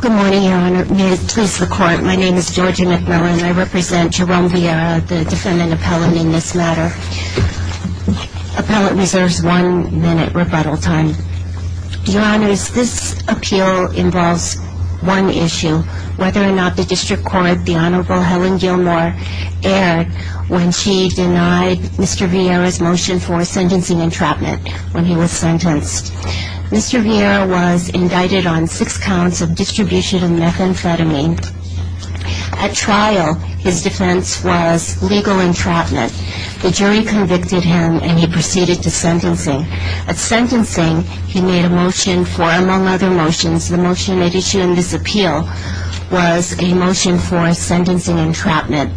Good morning, Your Honor. May it please the Court, my name is Georgia McMillan. I represent Jerome Vierra, the defendant appellant in this matter. Appellant reserves one minute rebuttal time. Your Honors, this appeal involves one issue, whether or not the District Court, the Honorable Helen Gilmore, erred when she denied Mr. Vierra's motion for sentencing entrapment when he was sentenced. Mr. Vierra was indicted on six counts of distribution of methamphetamine. At trial, his defense was legal entrapment. The jury convicted him and he proceeded to sentencing. At sentencing, he made a motion for, among other motions, the motion at issue in this appeal was a motion for sentencing entrapment.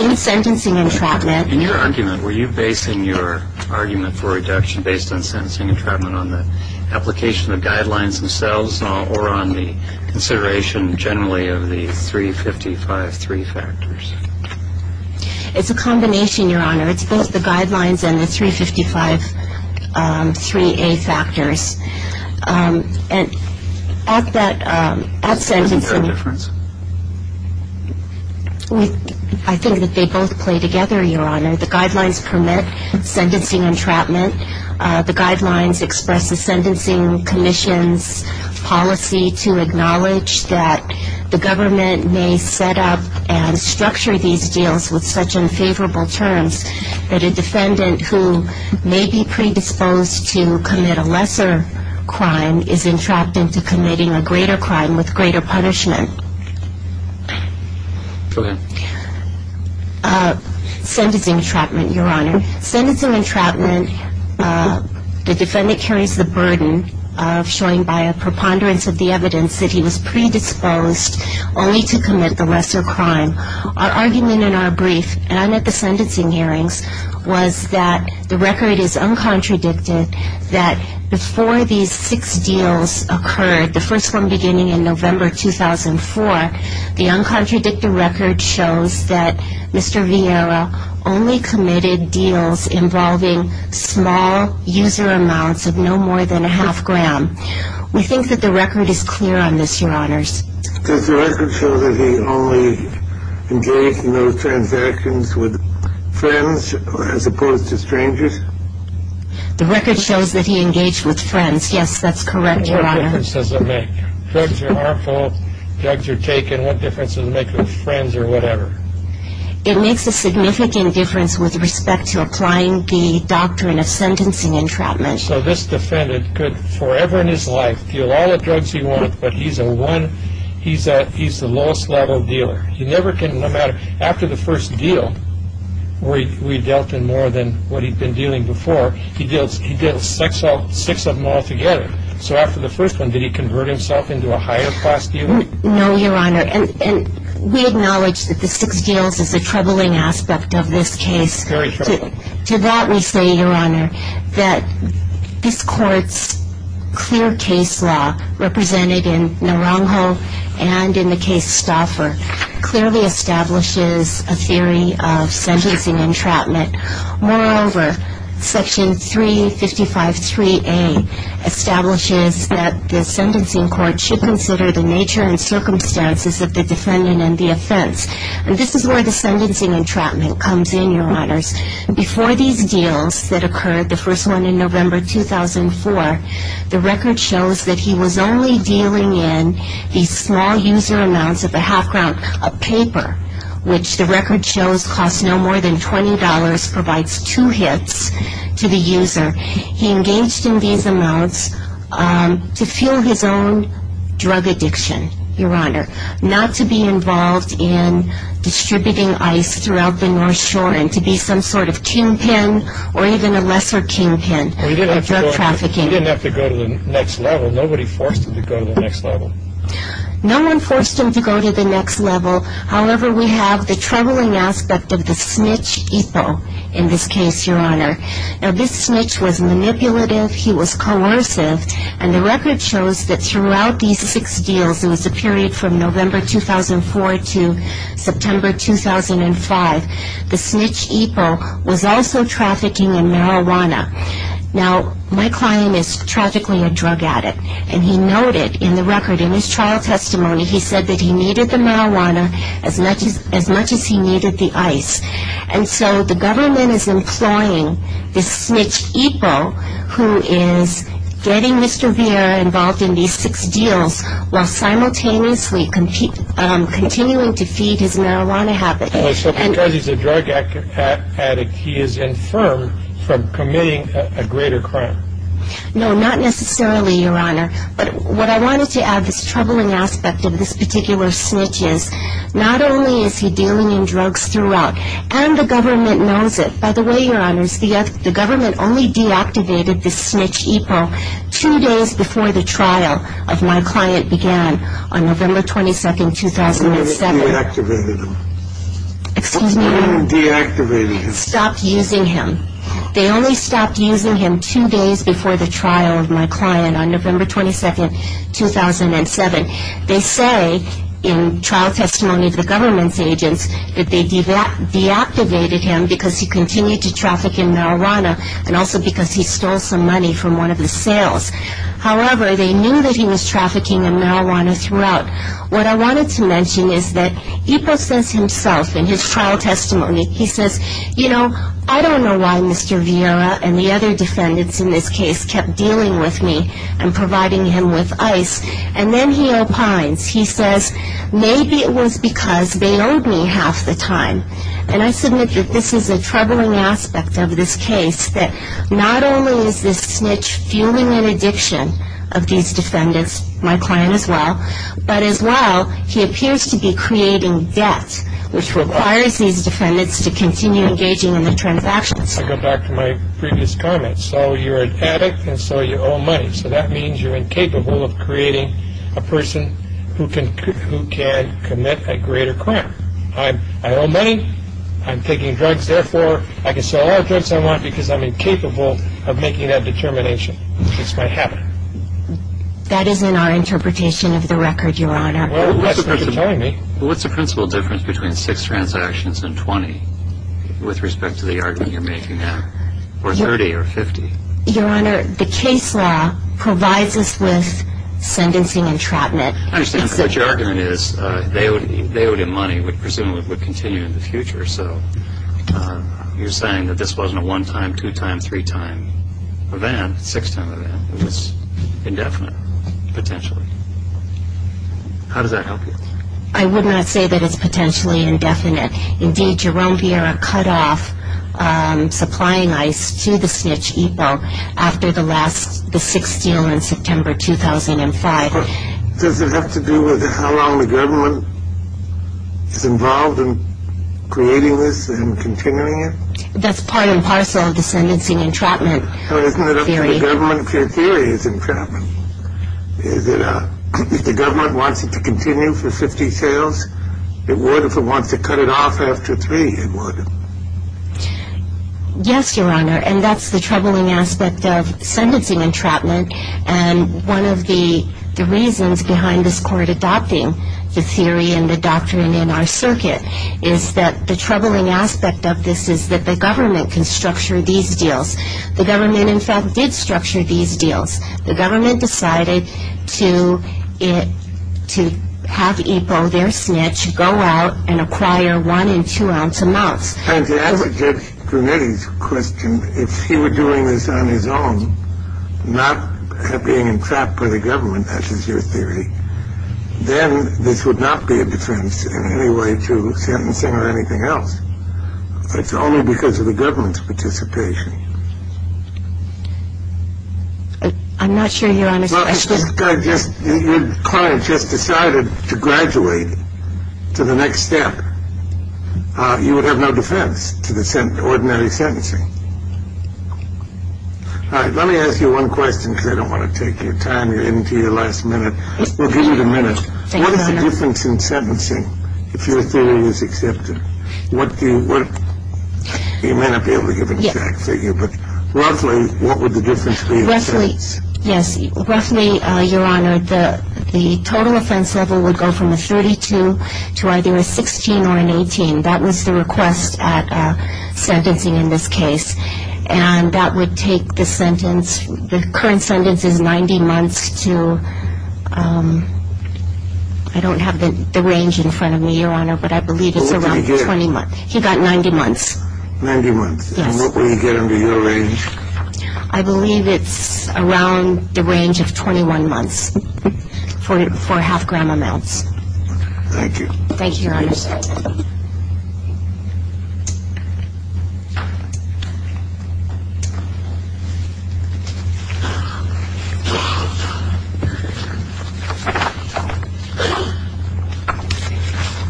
In sentencing entrapment... In your argument, were you basing your argument for reduction based on sentencing entrapment on the application of guidelines themselves or on the consideration generally of the 355-3 factors? It's a combination, Your Honor. It's both the guidelines and the 355-3A factors. And at that, at sentencing... Is there a difference? I think that they both play together, Your Honor. The guidelines permit sentencing entrapment. The guidelines express the sentencing commission's policy to acknowledge that the government may set up and structure these deals with such unfavorable terms that a defendant who may be predisposed to commit a lesser crime is entrapped into committing a greater crime with greater punishment. Sentencing entrapment, Your Honor. Sentencing entrapment, the defendant carries the burden of showing by a preponderance of the evidence that he was predisposed only to commit the lesser crime. Our argument in our brief, and I'm at the sentencing hearings, was that the record is uncontradicted that before these six deals occurred, the first one beginning in November 2004, the uncontradicted record shows that Mr. Vieira only committed deals involving small user amounts of no more than a half gram. We think that the record is clear on this, Your Honors. Does the record show that he only engaged in those transactions with friends as opposed to strangers? The record shows that he engaged with friends, yes, that's correct, Your Honor. What difference does it make? Drugs are harmful, drugs are taken, what difference does it make with friends or whatever? It makes a significant difference with respect to applying the doctrine of sentencing entrapment. And so this defendant could forever in his life deal all the drugs he wants, but he's the lowest level dealer. After the first deal, where he dealt in more than what he'd been dealing before, he dealt six of them all together. So after the first one, did he convert himself into a higher class dealer? No, Your Honor, and we acknowledge that the six deals is a troubling aspect of this case. Very troubling. To that we say, Your Honor, that this Court's clear case law, represented in Naranjo and in the case Stauffer, clearly establishes a theory of sentencing entrapment. Moreover, Section 355.3A establishes that the sentencing court should consider the nature and circumstances of the defendant and the offense. And this is where the sentencing entrapment comes in, Your Honors. Before these deals that occurred, the first one in November 2004, the record shows that he was only dealing in these small user amounts of a half-pound of paper, which the record shows costs no more than $20, provides two hits to the user. He engaged in these amounts to fuel his own drug addiction, Your Honor, not to be involved in distributing ice throughout the North Shore and to be some sort of kingpin or even a lesser kingpin of drug trafficking. He didn't have to go to the next level. Nobody forced him to go to the next level. No one forced him to go to the next level. However, we have the troubling aspect of the snitch EPO in this case, Your Honor. Now, this snitch was manipulative. He was coercive. And the record shows that throughout these six deals, it was a period from November 2004 to September 2005, the snitch EPO was also trafficking in marijuana. Now, my client is tragically a drug addict. And he noted in the record in his trial testimony, he said that he needed the marijuana as much as he needed the ice. And so the government is employing this snitch EPO who is getting Mr. Vieira involved in these six deals while simultaneously continuing to feed his marijuana habit. So because he's a drug addict, he is infirmed from committing a greater crime? No, not necessarily, Your Honor. But what I wanted to add, this troubling aspect of this particular snitch is not only is he dealing in drugs throughout, and the government knows it. By the way, Your Honors, the government only deactivated this snitch EPO two days before the trial of my client began on November 22, 2007. The government deactivated him? Excuse me? The government deactivated him? Stopped using him. They only stopped using him two days before the trial of my client on November 22, 2007. They say in trial testimony of the government's agents that they deactivated him because he continued to traffic in marijuana and also because he stole some money from one of the sales. However, they knew that he was trafficking in marijuana throughout. What I wanted to mention is that EPO says himself in his trial testimony, he says, you know, I don't know why Mr. Vieira and the other defendants in this case kept dealing with me and providing him with ice. And then he opines. He says, maybe it was because they owed me half the time. And I submit that this is a troubling aspect of this case, that not only is this snitch fueling an addiction of these defendants, my client as well, but as well, he appears to be creating debt, which requires these defendants to continue engaging in the transactions. I go back to my previous comment. So you're an addict, and so you owe money. So that means you're incapable of creating a person who can commit a greater crime. I owe money. I'm taking drugs. Therefore, I can sell all drugs I want because I'm incapable of making that determination. It's my habit. That is in our interpretation of the record, Your Honor. Well, what's the principal difference between six transactions and 20 with respect to the argument you're making now? Or 30 or 50? Your Honor, the case law provides us with sentencing entrapment. I understand. But your argument is they owed him money. Presumably it would continue in the future. So you're saying that this wasn't a one-time, two-time, three-time event, six-time event. It was indefinite, potentially. How does that help you? I would not say that it's potentially indefinite. Indeed, Jerome Vieira cut off supplying ice to the snitch EPO after the sixth deal in September 2005. Does it have to do with how long the government is involved in creating this and continuing it? That's part and parcel of the sentencing entrapment theory. Well, isn't it up to the government if their theory is entrapment? If the government wants it to continue for 50 sales, it would. If it wants to cut it off after three, it would. Yes, Your Honor. And that's the troubling aspect of sentencing entrapment. And one of the reasons behind this court adopting the theory and the doctrine in our circuit is that the troubling aspect of this is that the government can structure these deals. The government, in fact, did structure these deals. The government decided to have EPO, their snitch, go out and acquire one- and two-ounce amounts. And to answer Judge Grunetti's question, if he were doing this on his own, not being entrapped by the government, as is your theory, then this would not be a defense in any way to sentencing or anything else. It's only because of the government's participation. I'm not sure you understand. Your client just decided to graduate to the next step. You would have no defense to the ordinary sentencing. All right, let me ask you one question because I don't want to take your time. You're getting to your last minute. We'll give you the minute. What is the difference in sentencing if your theory is accepted? What do you want? You may not be able to give an exact figure, but roughly, what would the difference be in sentencing? Yes, roughly, Your Honor, the total offense level would go from a 32 to either a 16 or an 18. That was the request at sentencing in this case. And that would take the sentence, the current sentence is 90 months to, I don't have the range in front of me, Your Honor, but I believe it's around 20 months. What would he get? He got 90 months. 90 months. Yes. And what would he get under your range? I believe it's around the range of 21 months for half-gram amounts. Thank you. Thank you, Your Honor.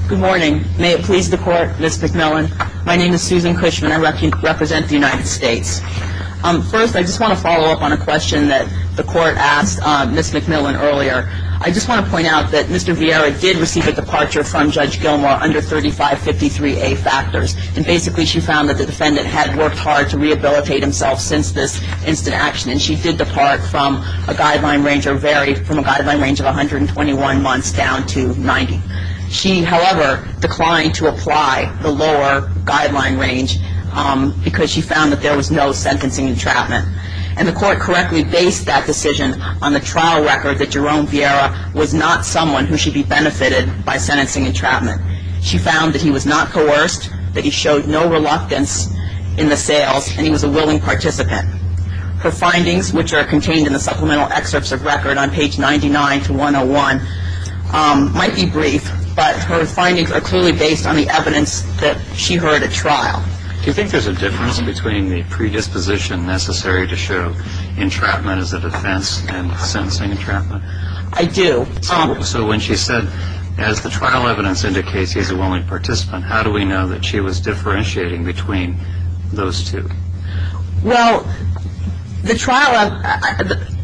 Good morning. May it please the Court, Ms. McMillan. My name is Susan Cushman. I represent the United States. First, I just want to follow up on a question that the Court asked Ms. McMillan earlier. I just want to point out that Mr. Vieira did receive a departure from Judge Gilmour under 3553A factors, and basically she found that the defendant had worked hard to rehabilitate himself since this instant action, and she did depart from a guideline range or vary from a guideline range of 121 months down to 90. She, however, declined to apply the lower guideline range because she found that there was no sentencing entrapment. And the Court correctly based that decision on the trial record that Jerome Vieira was not someone who should be benefited by sentencing entrapment. She found that he was not coerced, that he showed no reluctance in the sales, and he was a willing participant. Her findings, which are contained in the supplemental excerpts of record on page 99 to 101, might be brief, but her findings are clearly based on the evidence that she heard at trial. Do you think there's a difference between the predisposition necessary to show entrapment as a defense and sentencing entrapment? I do. So when she said, as the trial evidence indicates, he's a willing participant, how do we know that she was differentiating between those two? Well, the trial,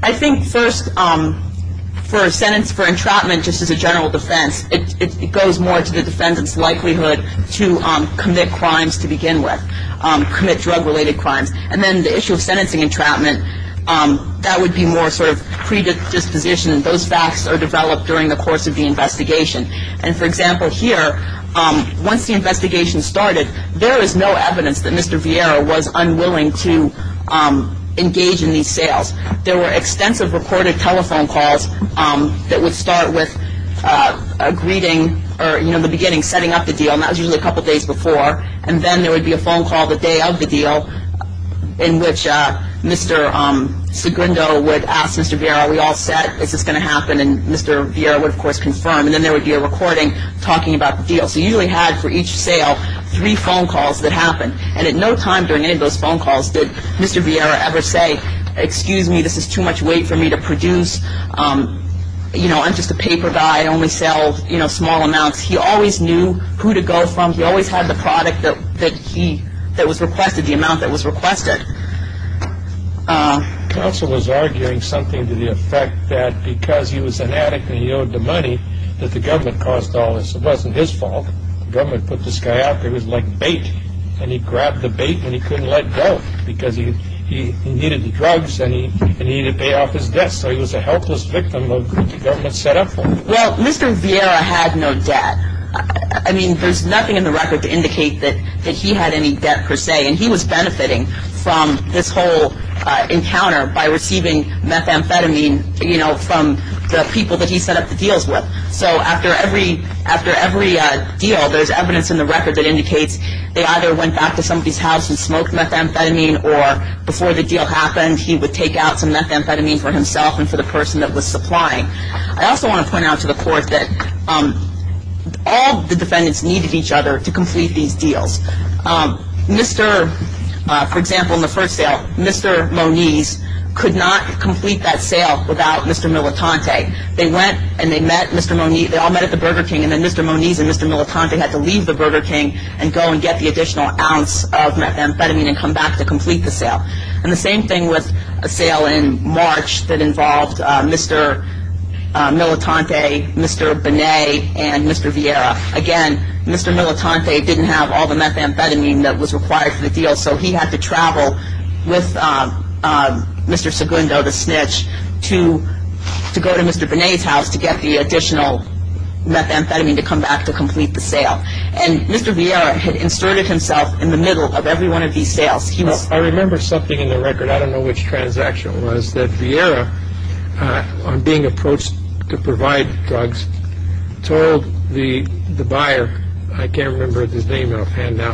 I think first for a sentence for entrapment just as a general defense, it goes more to the defendant's likelihood to commit crimes to begin with, commit drug-related crimes. And then the issue of sentencing entrapment, that would be more sort of predisposition. Those facts are developed during the course of the investigation. And, for example, here, once the investigation started, there is no evidence that Mr. Vieira was unwilling to engage in these sales. There were extensive recorded telephone calls that would start with a greeting or, you know, in the beginning setting up the deal, and that was usually a couple days before. And then there would be a phone call the day of the deal in which Mr. Segundo would ask Mr. Vieira, we all set, is this going to happen? And Mr. Vieira would, of course, confirm. And then there would be a recording talking about the deal. So you usually had, for each sale, three phone calls that happened. And at no time during any of those phone calls did Mr. Vieira ever say, excuse me, this is too much weight for me to produce. You know, I'm just a paper guy. I only sell, you know, small amounts. He always knew who to go from. He always had the product that he, that was requested, the amount that was requested. Counsel was arguing something to the effect that because he was an addict and he owed the money, that the government caused all this. It wasn't his fault. The government put this guy out there. It was like bait. And he grabbed the bait and he couldn't let go because he needed the drugs and he needed to pay off his debts. So he was a helpless victim of what the government set up for him. Well, Mr. Vieira had no debt. I mean, there's nothing in the record to indicate that he had any debt per se. And he was benefiting from this whole encounter by receiving methamphetamine, you know, from the people that he set up the deals with. So after every deal, there's evidence in the record that indicates they either went back to somebody's house and smoked methamphetamine or before the deal happened, he would take out some methamphetamine for himself and for the person that was supplying. I also want to point out to the court that all the defendants needed each other to complete these deals. For example, in the first sale, Mr. Moniz could not complete that sale without Mr. Militante. They went and they met Mr. Moniz. They all met at the Burger King. And then Mr. Moniz and Mr. Militante had to leave the Burger King and go and get the additional ounce of methamphetamine and come back to complete the sale. And the same thing with a sale in March that involved Mr. Militante, Mr. Binet, and Mr. Vieira. Again, Mr. Militante didn't have all the methamphetamine that was required for the deal, so he had to travel with Mr. Segundo, the snitch, to go to Mr. Binet's house to get the additional methamphetamine to come back to complete the sale. And Mr. Vieira had inserted himself in the middle of every one of these sales. I remember something in the record. I don't know which transaction it was that Vieira, on being approached to provide drugs, told the buyer—I can't remember his name offhand now,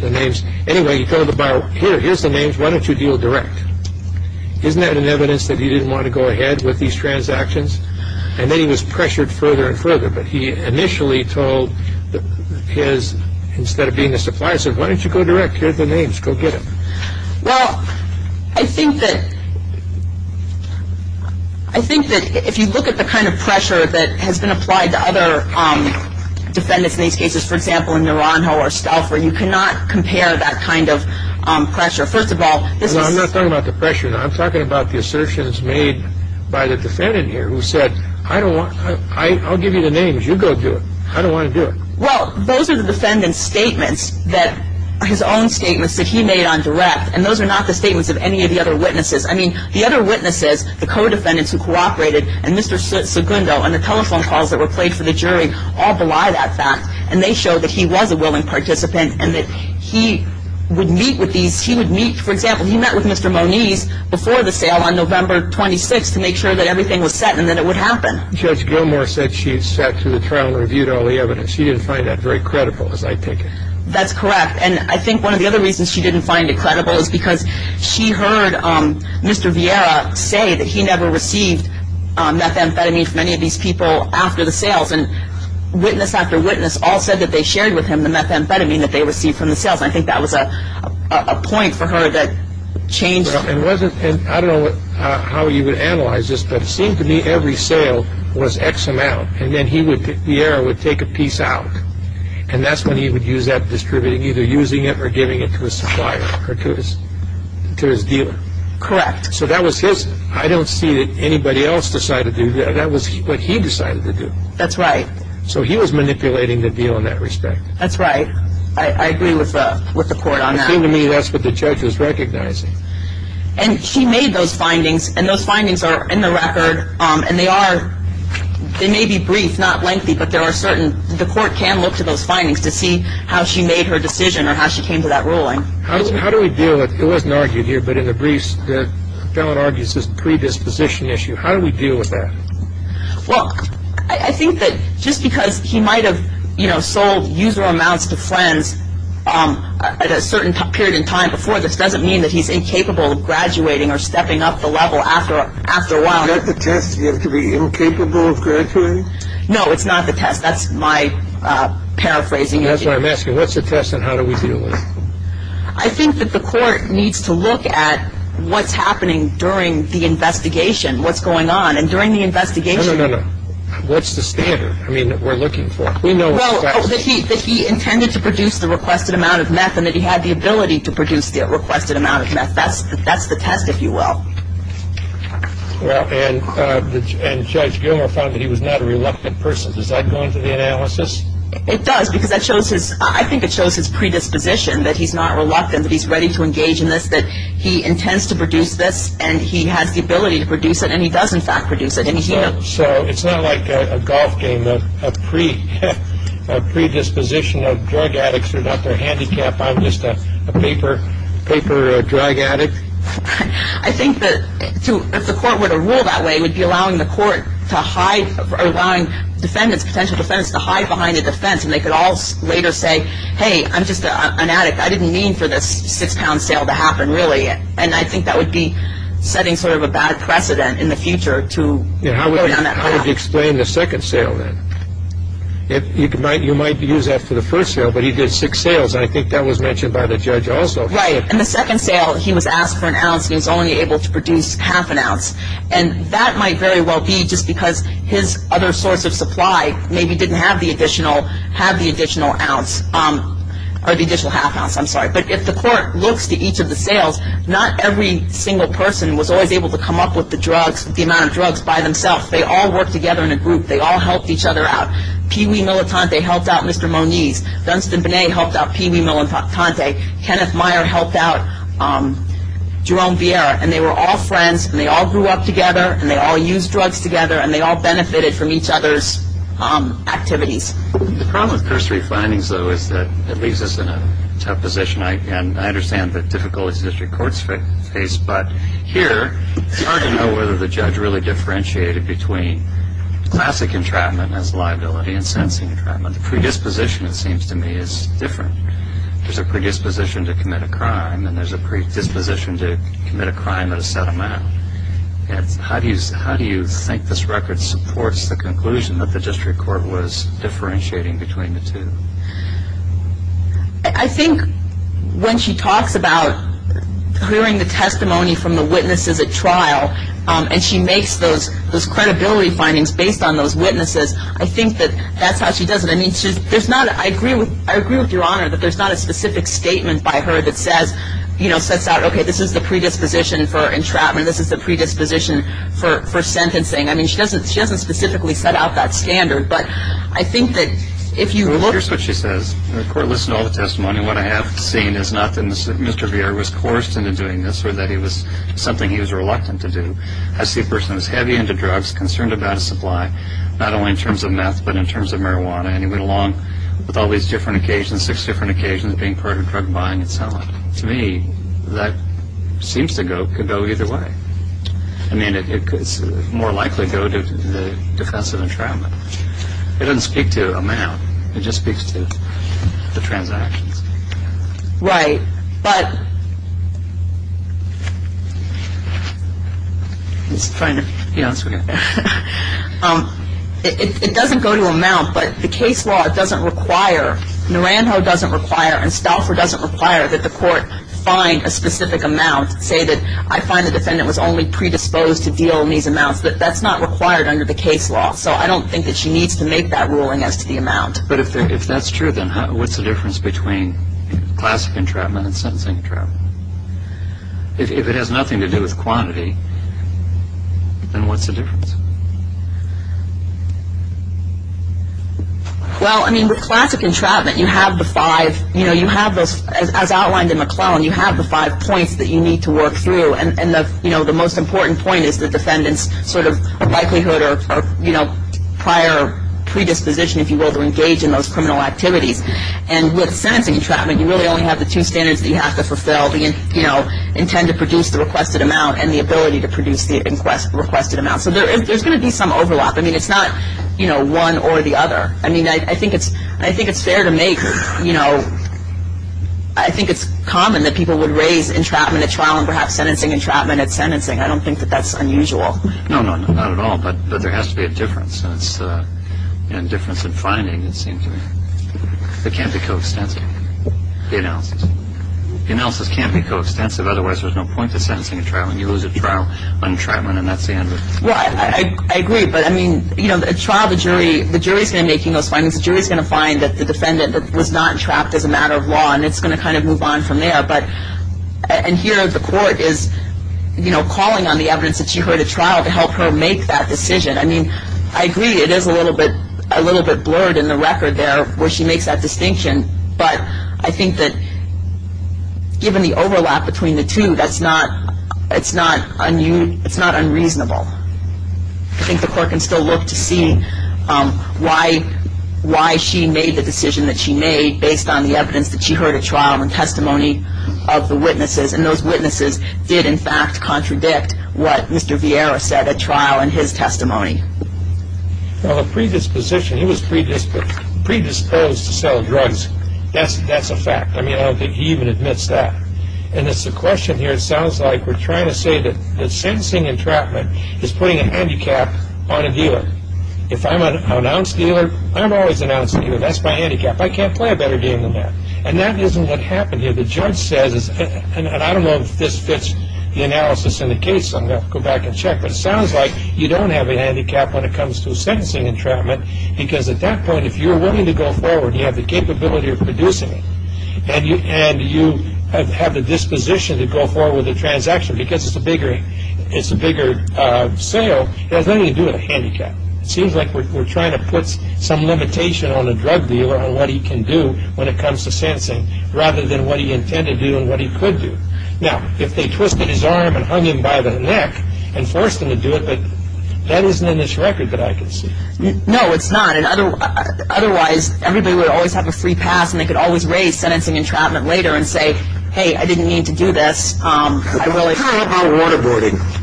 the names. Anyway, he told the buyer, here, here's the names. Why don't you deal direct? Isn't that an evidence that he didn't want to go ahead with these transactions? And then he was pressured further and further, but he initially told his— instead of being the supplier, he said, why don't you go direct? Here are the names. Go get them. Well, I think that—I think that if you look at the kind of pressure that has been applied to other defendants in these cases, for example, in Naranjo or Stouffer, you cannot compare that kind of pressure. First of all, this is— No, I'm not talking about the pressure. I'm talking about the assertions made by the defendant here who said, I don't want—I'll give you the names. You go do it. I don't want to do it. Well, those are the defendant's statements that—his own statements that he made on direct, and those are not the statements of any of the other witnesses. I mean, the other witnesses, the co-defendants who cooperated, and Mr. Segundo and the telephone calls that were played for the jury all belie that fact, and they show that he was a willing participant and that he would meet with these—he would meet— for example, he met with Mr. Moniz before the sale on November 26th to make sure that everything was set and that it would happen. Judge Gilmour said she sat through the trial and reviewed all the evidence. She didn't find that very credible, as I take it. That's correct, and I think one of the other reasons she didn't find it credible is because she heard Mr. Vieira say that he never received methamphetamine from any of these people after the sales, and witness after witness all said that they shared with him the methamphetamine that they received from the sales, and I think that was a point for her that changed— Well, it wasn't—and I don't know how you would analyze this, but it seemed to me every sale was X amount, and then he would—Vieira would take a piece out, and that's when he would use that distributing, either using it or giving it to his supplier or to his dealer. Correct. So that was his—I don't see that anybody else decided to do that. That was what he decided to do. That's right. So he was manipulating the deal in that respect. That's right. I agree with the court on that. It seemed to me that's what the judge was recognizing. And she made those findings, and those findings are in the record, and they are—they may be brief, not lengthy, but there are certain— the court can look to those findings to see how she made her decision or how she came to that ruling. How do we deal with—it wasn't argued here, but in the briefs the felon argues this predisposition issue. How do we deal with that? Well, I think that just because he might have, you know, sold usual amounts to friends at a certain period in time before this doesn't mean that he's incapable of graduating or stepping up the level after a while. Is that the test, you have to be incapable of graduating? No, it's not the test. That's my paraphrasing. That's what I'm asking. What's the test and how do we deal with it? I think that the court needs to look at what's happening during the investigation, what's going on. And during the investigation— No, no, no, no. What's the standard, I mean, that we're looking for? We know what's the standard. Well, that he intended to produce the requested amount of meth and that he had the ability to produce the requested amount of meth. That's the test, if you will. Well, and Judge Gilmer found that he was not a reluctant person. Does that go into the analysis? It does because I think it shows his predisposition that he's not reluctant, that he's ready to engage in this, that he intends to produce this and he has the ability to produce it, and he does, in fact, produce it. So it's not like a golf game, a predisposition of drug addicts who got their handicap, I'm just a paper drug addict? I think that if the court were to rule that way, it would be allowing the court to hide, allowing potential defendants to hide behind a defense and they could all later say, hey, I'm just an addict. I didn't mean for this six-pound sale to happen, really. And I think that would be setting sort of a bad precedent in the future to go down that path. How would you explain the second sale, then? You might use that for the first sale, but he did six sales, and I think that was mentioned by the judge also. Right. And the second sale, he was asked for an ounce, and he was only able to produce half an ounce. And that might very well be just because his other source of supply maybe didn't have the additional half ounce. But if the court looks to each of the sales, not every single person was always able to come up with the amount of drugs by themselves. They all worked together in a group. They all helped each other out. Pee-wee Militante helped out Mr. Moniz. Dunstan Binet helped out Pee-wee Militante. Kenneth Meyer helped out Jerome Vieira. And they were all friends, and they all grew up together, and they all used drugs together, and they all benefited from each other's activities. The problem with cursory findings, though, is that it leaves us in a tough position. And I understand the difficulties district courts face, but here it's hard to know whether the judge really differentiated between classic entrapment as liability and sentencing entrapment. The predisposition, it seems to me, is different. There's a predisposition to commit a crime, and there's a predisposition to commit a crime at a set amount. How do you think this record supports the conclusion that the district court was differentiating between the two? I think when she talks about hearing the testimony from the witnesses at trial and she makes those credibility findings based on those witnesses, I think that that's how she does it. I mean, I agree with Your Honor that there's not a specific statement by her that says, you know, sets out, okay, this is the predisposition for entrapment, this is the predisposition for sentencing. I mean, she doesn't specifically set out that standard, but I think that if you look... Well, here's what she says. The court listened to all the testimony. What I have seen is not that Mr. Vieira was coerced into doing this or that it was something he was reluctant to do. I see a person who's heavy into drugs, concerned about his supply, not only in terms of meth but in terms of marijuana, and he went along with all these different occasions, six different occasions of being part of drug buying and selling. To me, that seems to go either way. I mean, it's more likely to go to the defense of entrapment. It doesn't speak to amount. It just speaks to the transactions. Right, but... It doesn't go to amount, but the case law doesn't require, Naranjo doesn't require and Stauffer doesn't require that the court find a specific amount, say that I find the defendant was only predisposed to deal in these amounts. That's not required under the case law, so I don't think that she needs to make that ruling as to the amount. But if that's true, then what's the difference between classic entrapment and sentencing entrapment? If it has nothing to do with quantity, then what's the difference? Well, I mean, with classic entrapment, you have the five, you know, you have those, as outlined in McClellan, you have the five points that you need to work through, and, you know, the most important point is the defendant's sort of likelihood or, you know, prior predisposition, if you will, to engage in those criminal activities. And with sentencing entrapment, you really only have the two standards that you have to fulfill, the, you know, intend to produce the requested amount and the ability to produce the requested amount. So there's going to be some overlap. I mean, it's not, you know, one or the other. I mean, I think it's fair to make, you know, I think it's common that people would raise entrapment at trial and perhaps sentencing entrapment at sentencing. I don't think that that's unusual. No, no, no, not at all, but there has to be a difference, and it's a difference in finding, it seems to me. It can't be coextensive, the analysis. The analysis can't be coextensive, otherwise there's no point to sentencing a trial when you lose a trial on entrapment and that's the end of it. Well, I agree, but, I mean, you know, a trial, the jury, the jury's going to make those findings. The jury's going to find that the defendant was not trapped as a matter of law, and it's going to kind of move on from there. But, and here the court is, you know, calling on the evidence that she heard at trial to help her make that decision. I mean, I agree it is a little bit blurred in the record there where she makes that distinction, but I think that given the overlap between the two, that's not unreasonable. I think the court can still look to see why she made the decision that she made based on the evidence that she heard at trial and testimony of the witnesses, and those witnesses did, in fact, contradict what Mr. Vieira said at trial in his testimony. Well, a predisposition, he was predisposed to sell drugs. That's a fact. I mean, I don't think he even admits that. And it's a question here, it sounds like we're trying to say that sentencing entrapment is putting a handicap on a dealer. If I'm an ounce dealer, I'm always an ounce dealer. That's my handicap. I can't play a better game than that. And that isn't what happened here. The judge says, and I don't know if this fits the analysis in the case, so I'm going to go back and check, but it sounds like you don't have a handicap when it comes to a sentencing entrapment because at that point if you're willing to go forward and you have the capability of producing it and you have the disposition to go forward with the transaction because it's a bigger sale, it has nothing to do with a handicap. It seems like we're trying to put some limitation on the drug dealer on what he can do when it comes to sentencing rather than what he intended to do and what he could do. Now, if they twisted his arm and hung him by the neck and forced him to do it, that isn't in this record that I can see. No, it's not. Otherwise, everybody would always have a free pass and they could always raise sentencing entrapment later and say, hey, I didn't mean to do this. What about waterboarding?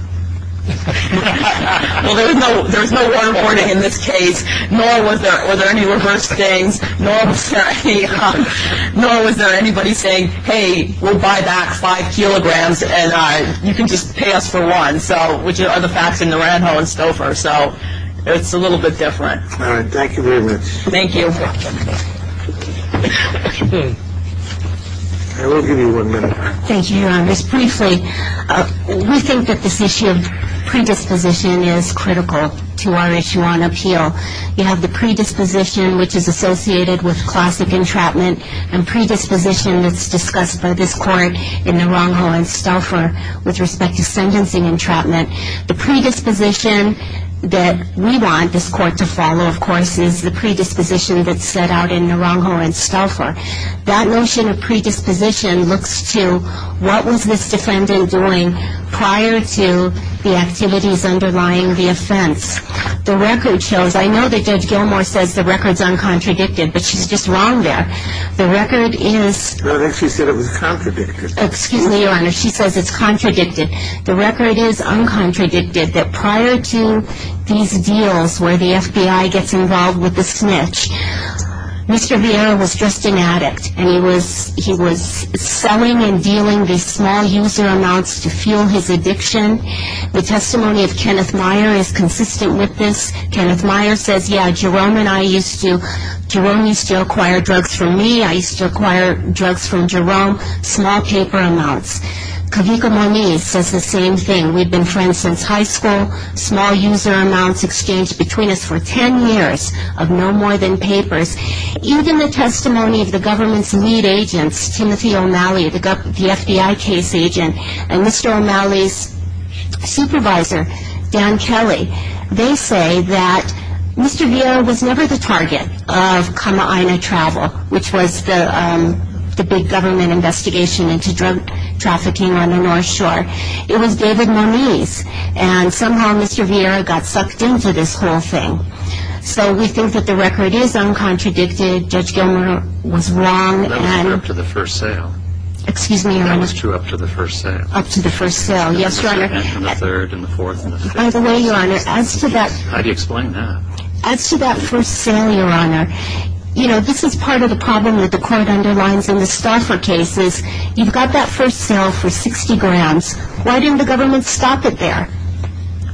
Well, there was no waterboarding in this case, nor were there any reverse gangs, nor was there anybody saying, hey, we'll buy back five kilograms and you can just pay us for one, which are the facts in Naranjo and Stouffer, so it's a little bit different. All right. Thank you very much. Thank you. I will give you one minute. Thank you, Your Honor. Just briefly, we think that this issue of predisposition is critical to our issue on appeal. You have the predisposition which is associated with classic entrapment and predisposition that's discussed by this court in Naranjo and Stouffer with respect to sentencing entrapment. The predisposition that we want this court to follow, of course, is the predisposition that's set out in Naranjo and Stouffer. That notion of predisposition looks to what was this defendant doing prior to the activities underlying the offense. The record shows, I know that Judge Gilmour says the record's uncontradicted, but she's just wrong there. The record is... No, I think she said it was contradicted. Excuse me, Your Honor. She says it's contradicted. The record is uncontradicted, that prior to these deals where the FBI gets involved with the snitch, Mr. Vieira was just an addict, and he was selling and dealing these small user amounts to fuel his addiction. The testimony of Kenneth Meyer is consistent with this. Kenneth Meyer says, yeah, Jerome and I used to... Jerome used to acquire drugs from me. I used to acquire drugs from Jerome, small paper amounts. Kavika Moniz says the same thing. We've been friends since high school. Small user amounts exchanged between us for 10 years of no more than papers. Even the testimony of the government's lead agents, Timothy O'Malley, the FBI case agent, and Mr. O'Malley's supervisor, Dan Kelly, they say that Mr. Vieira was never the target of Kama'aina Travel, which was the big government investigation into drug trafficking on the North Shore. It was David Moniz, and somehow Mr. Vieira got sucked into this whole thing. So we think that the record is uncontradicted. Judge Gilmour was wrong. That was true up to the first sale. Excuse me, Your Honor. That was true up to the first sale. Up to the first sale. Yes, Your Honor. And the third and the fourth and the fifth. By the way, Your Honor, as to that... How do you explain that? As to that first sale, Your Honor, you know, this is part of the problem that the court underlines in the Stauffer cases. You've got that first sale for 60 grams. Why didn't the government stop it there?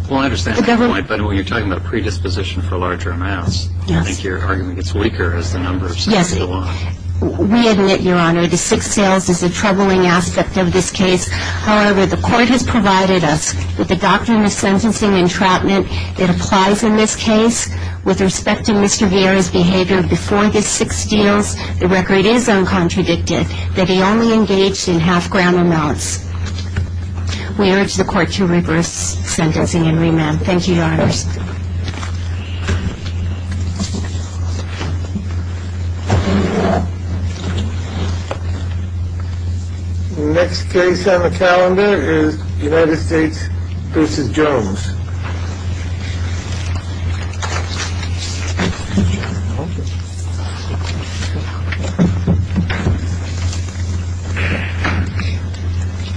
Well, I understand that point, but when you're talking about predisposition for larger amounts... Yes. I think your argument gets weaker as the number of sales go up. Yes. We admit, Your Honor, the six sales is a troubling aspect of this case. However, the court has provided us with the doctrine of sentencing entrapment that applies in this case. With respect to Mr. Vieira's behavior before the six deals, the record is uncontradicted that he only engaged in half-gram amounts. We urge the court to reverse sentencing and remand. Thank you, Your Honors. Thank you. The next case on the calendar is United States v. Jones. Thank you.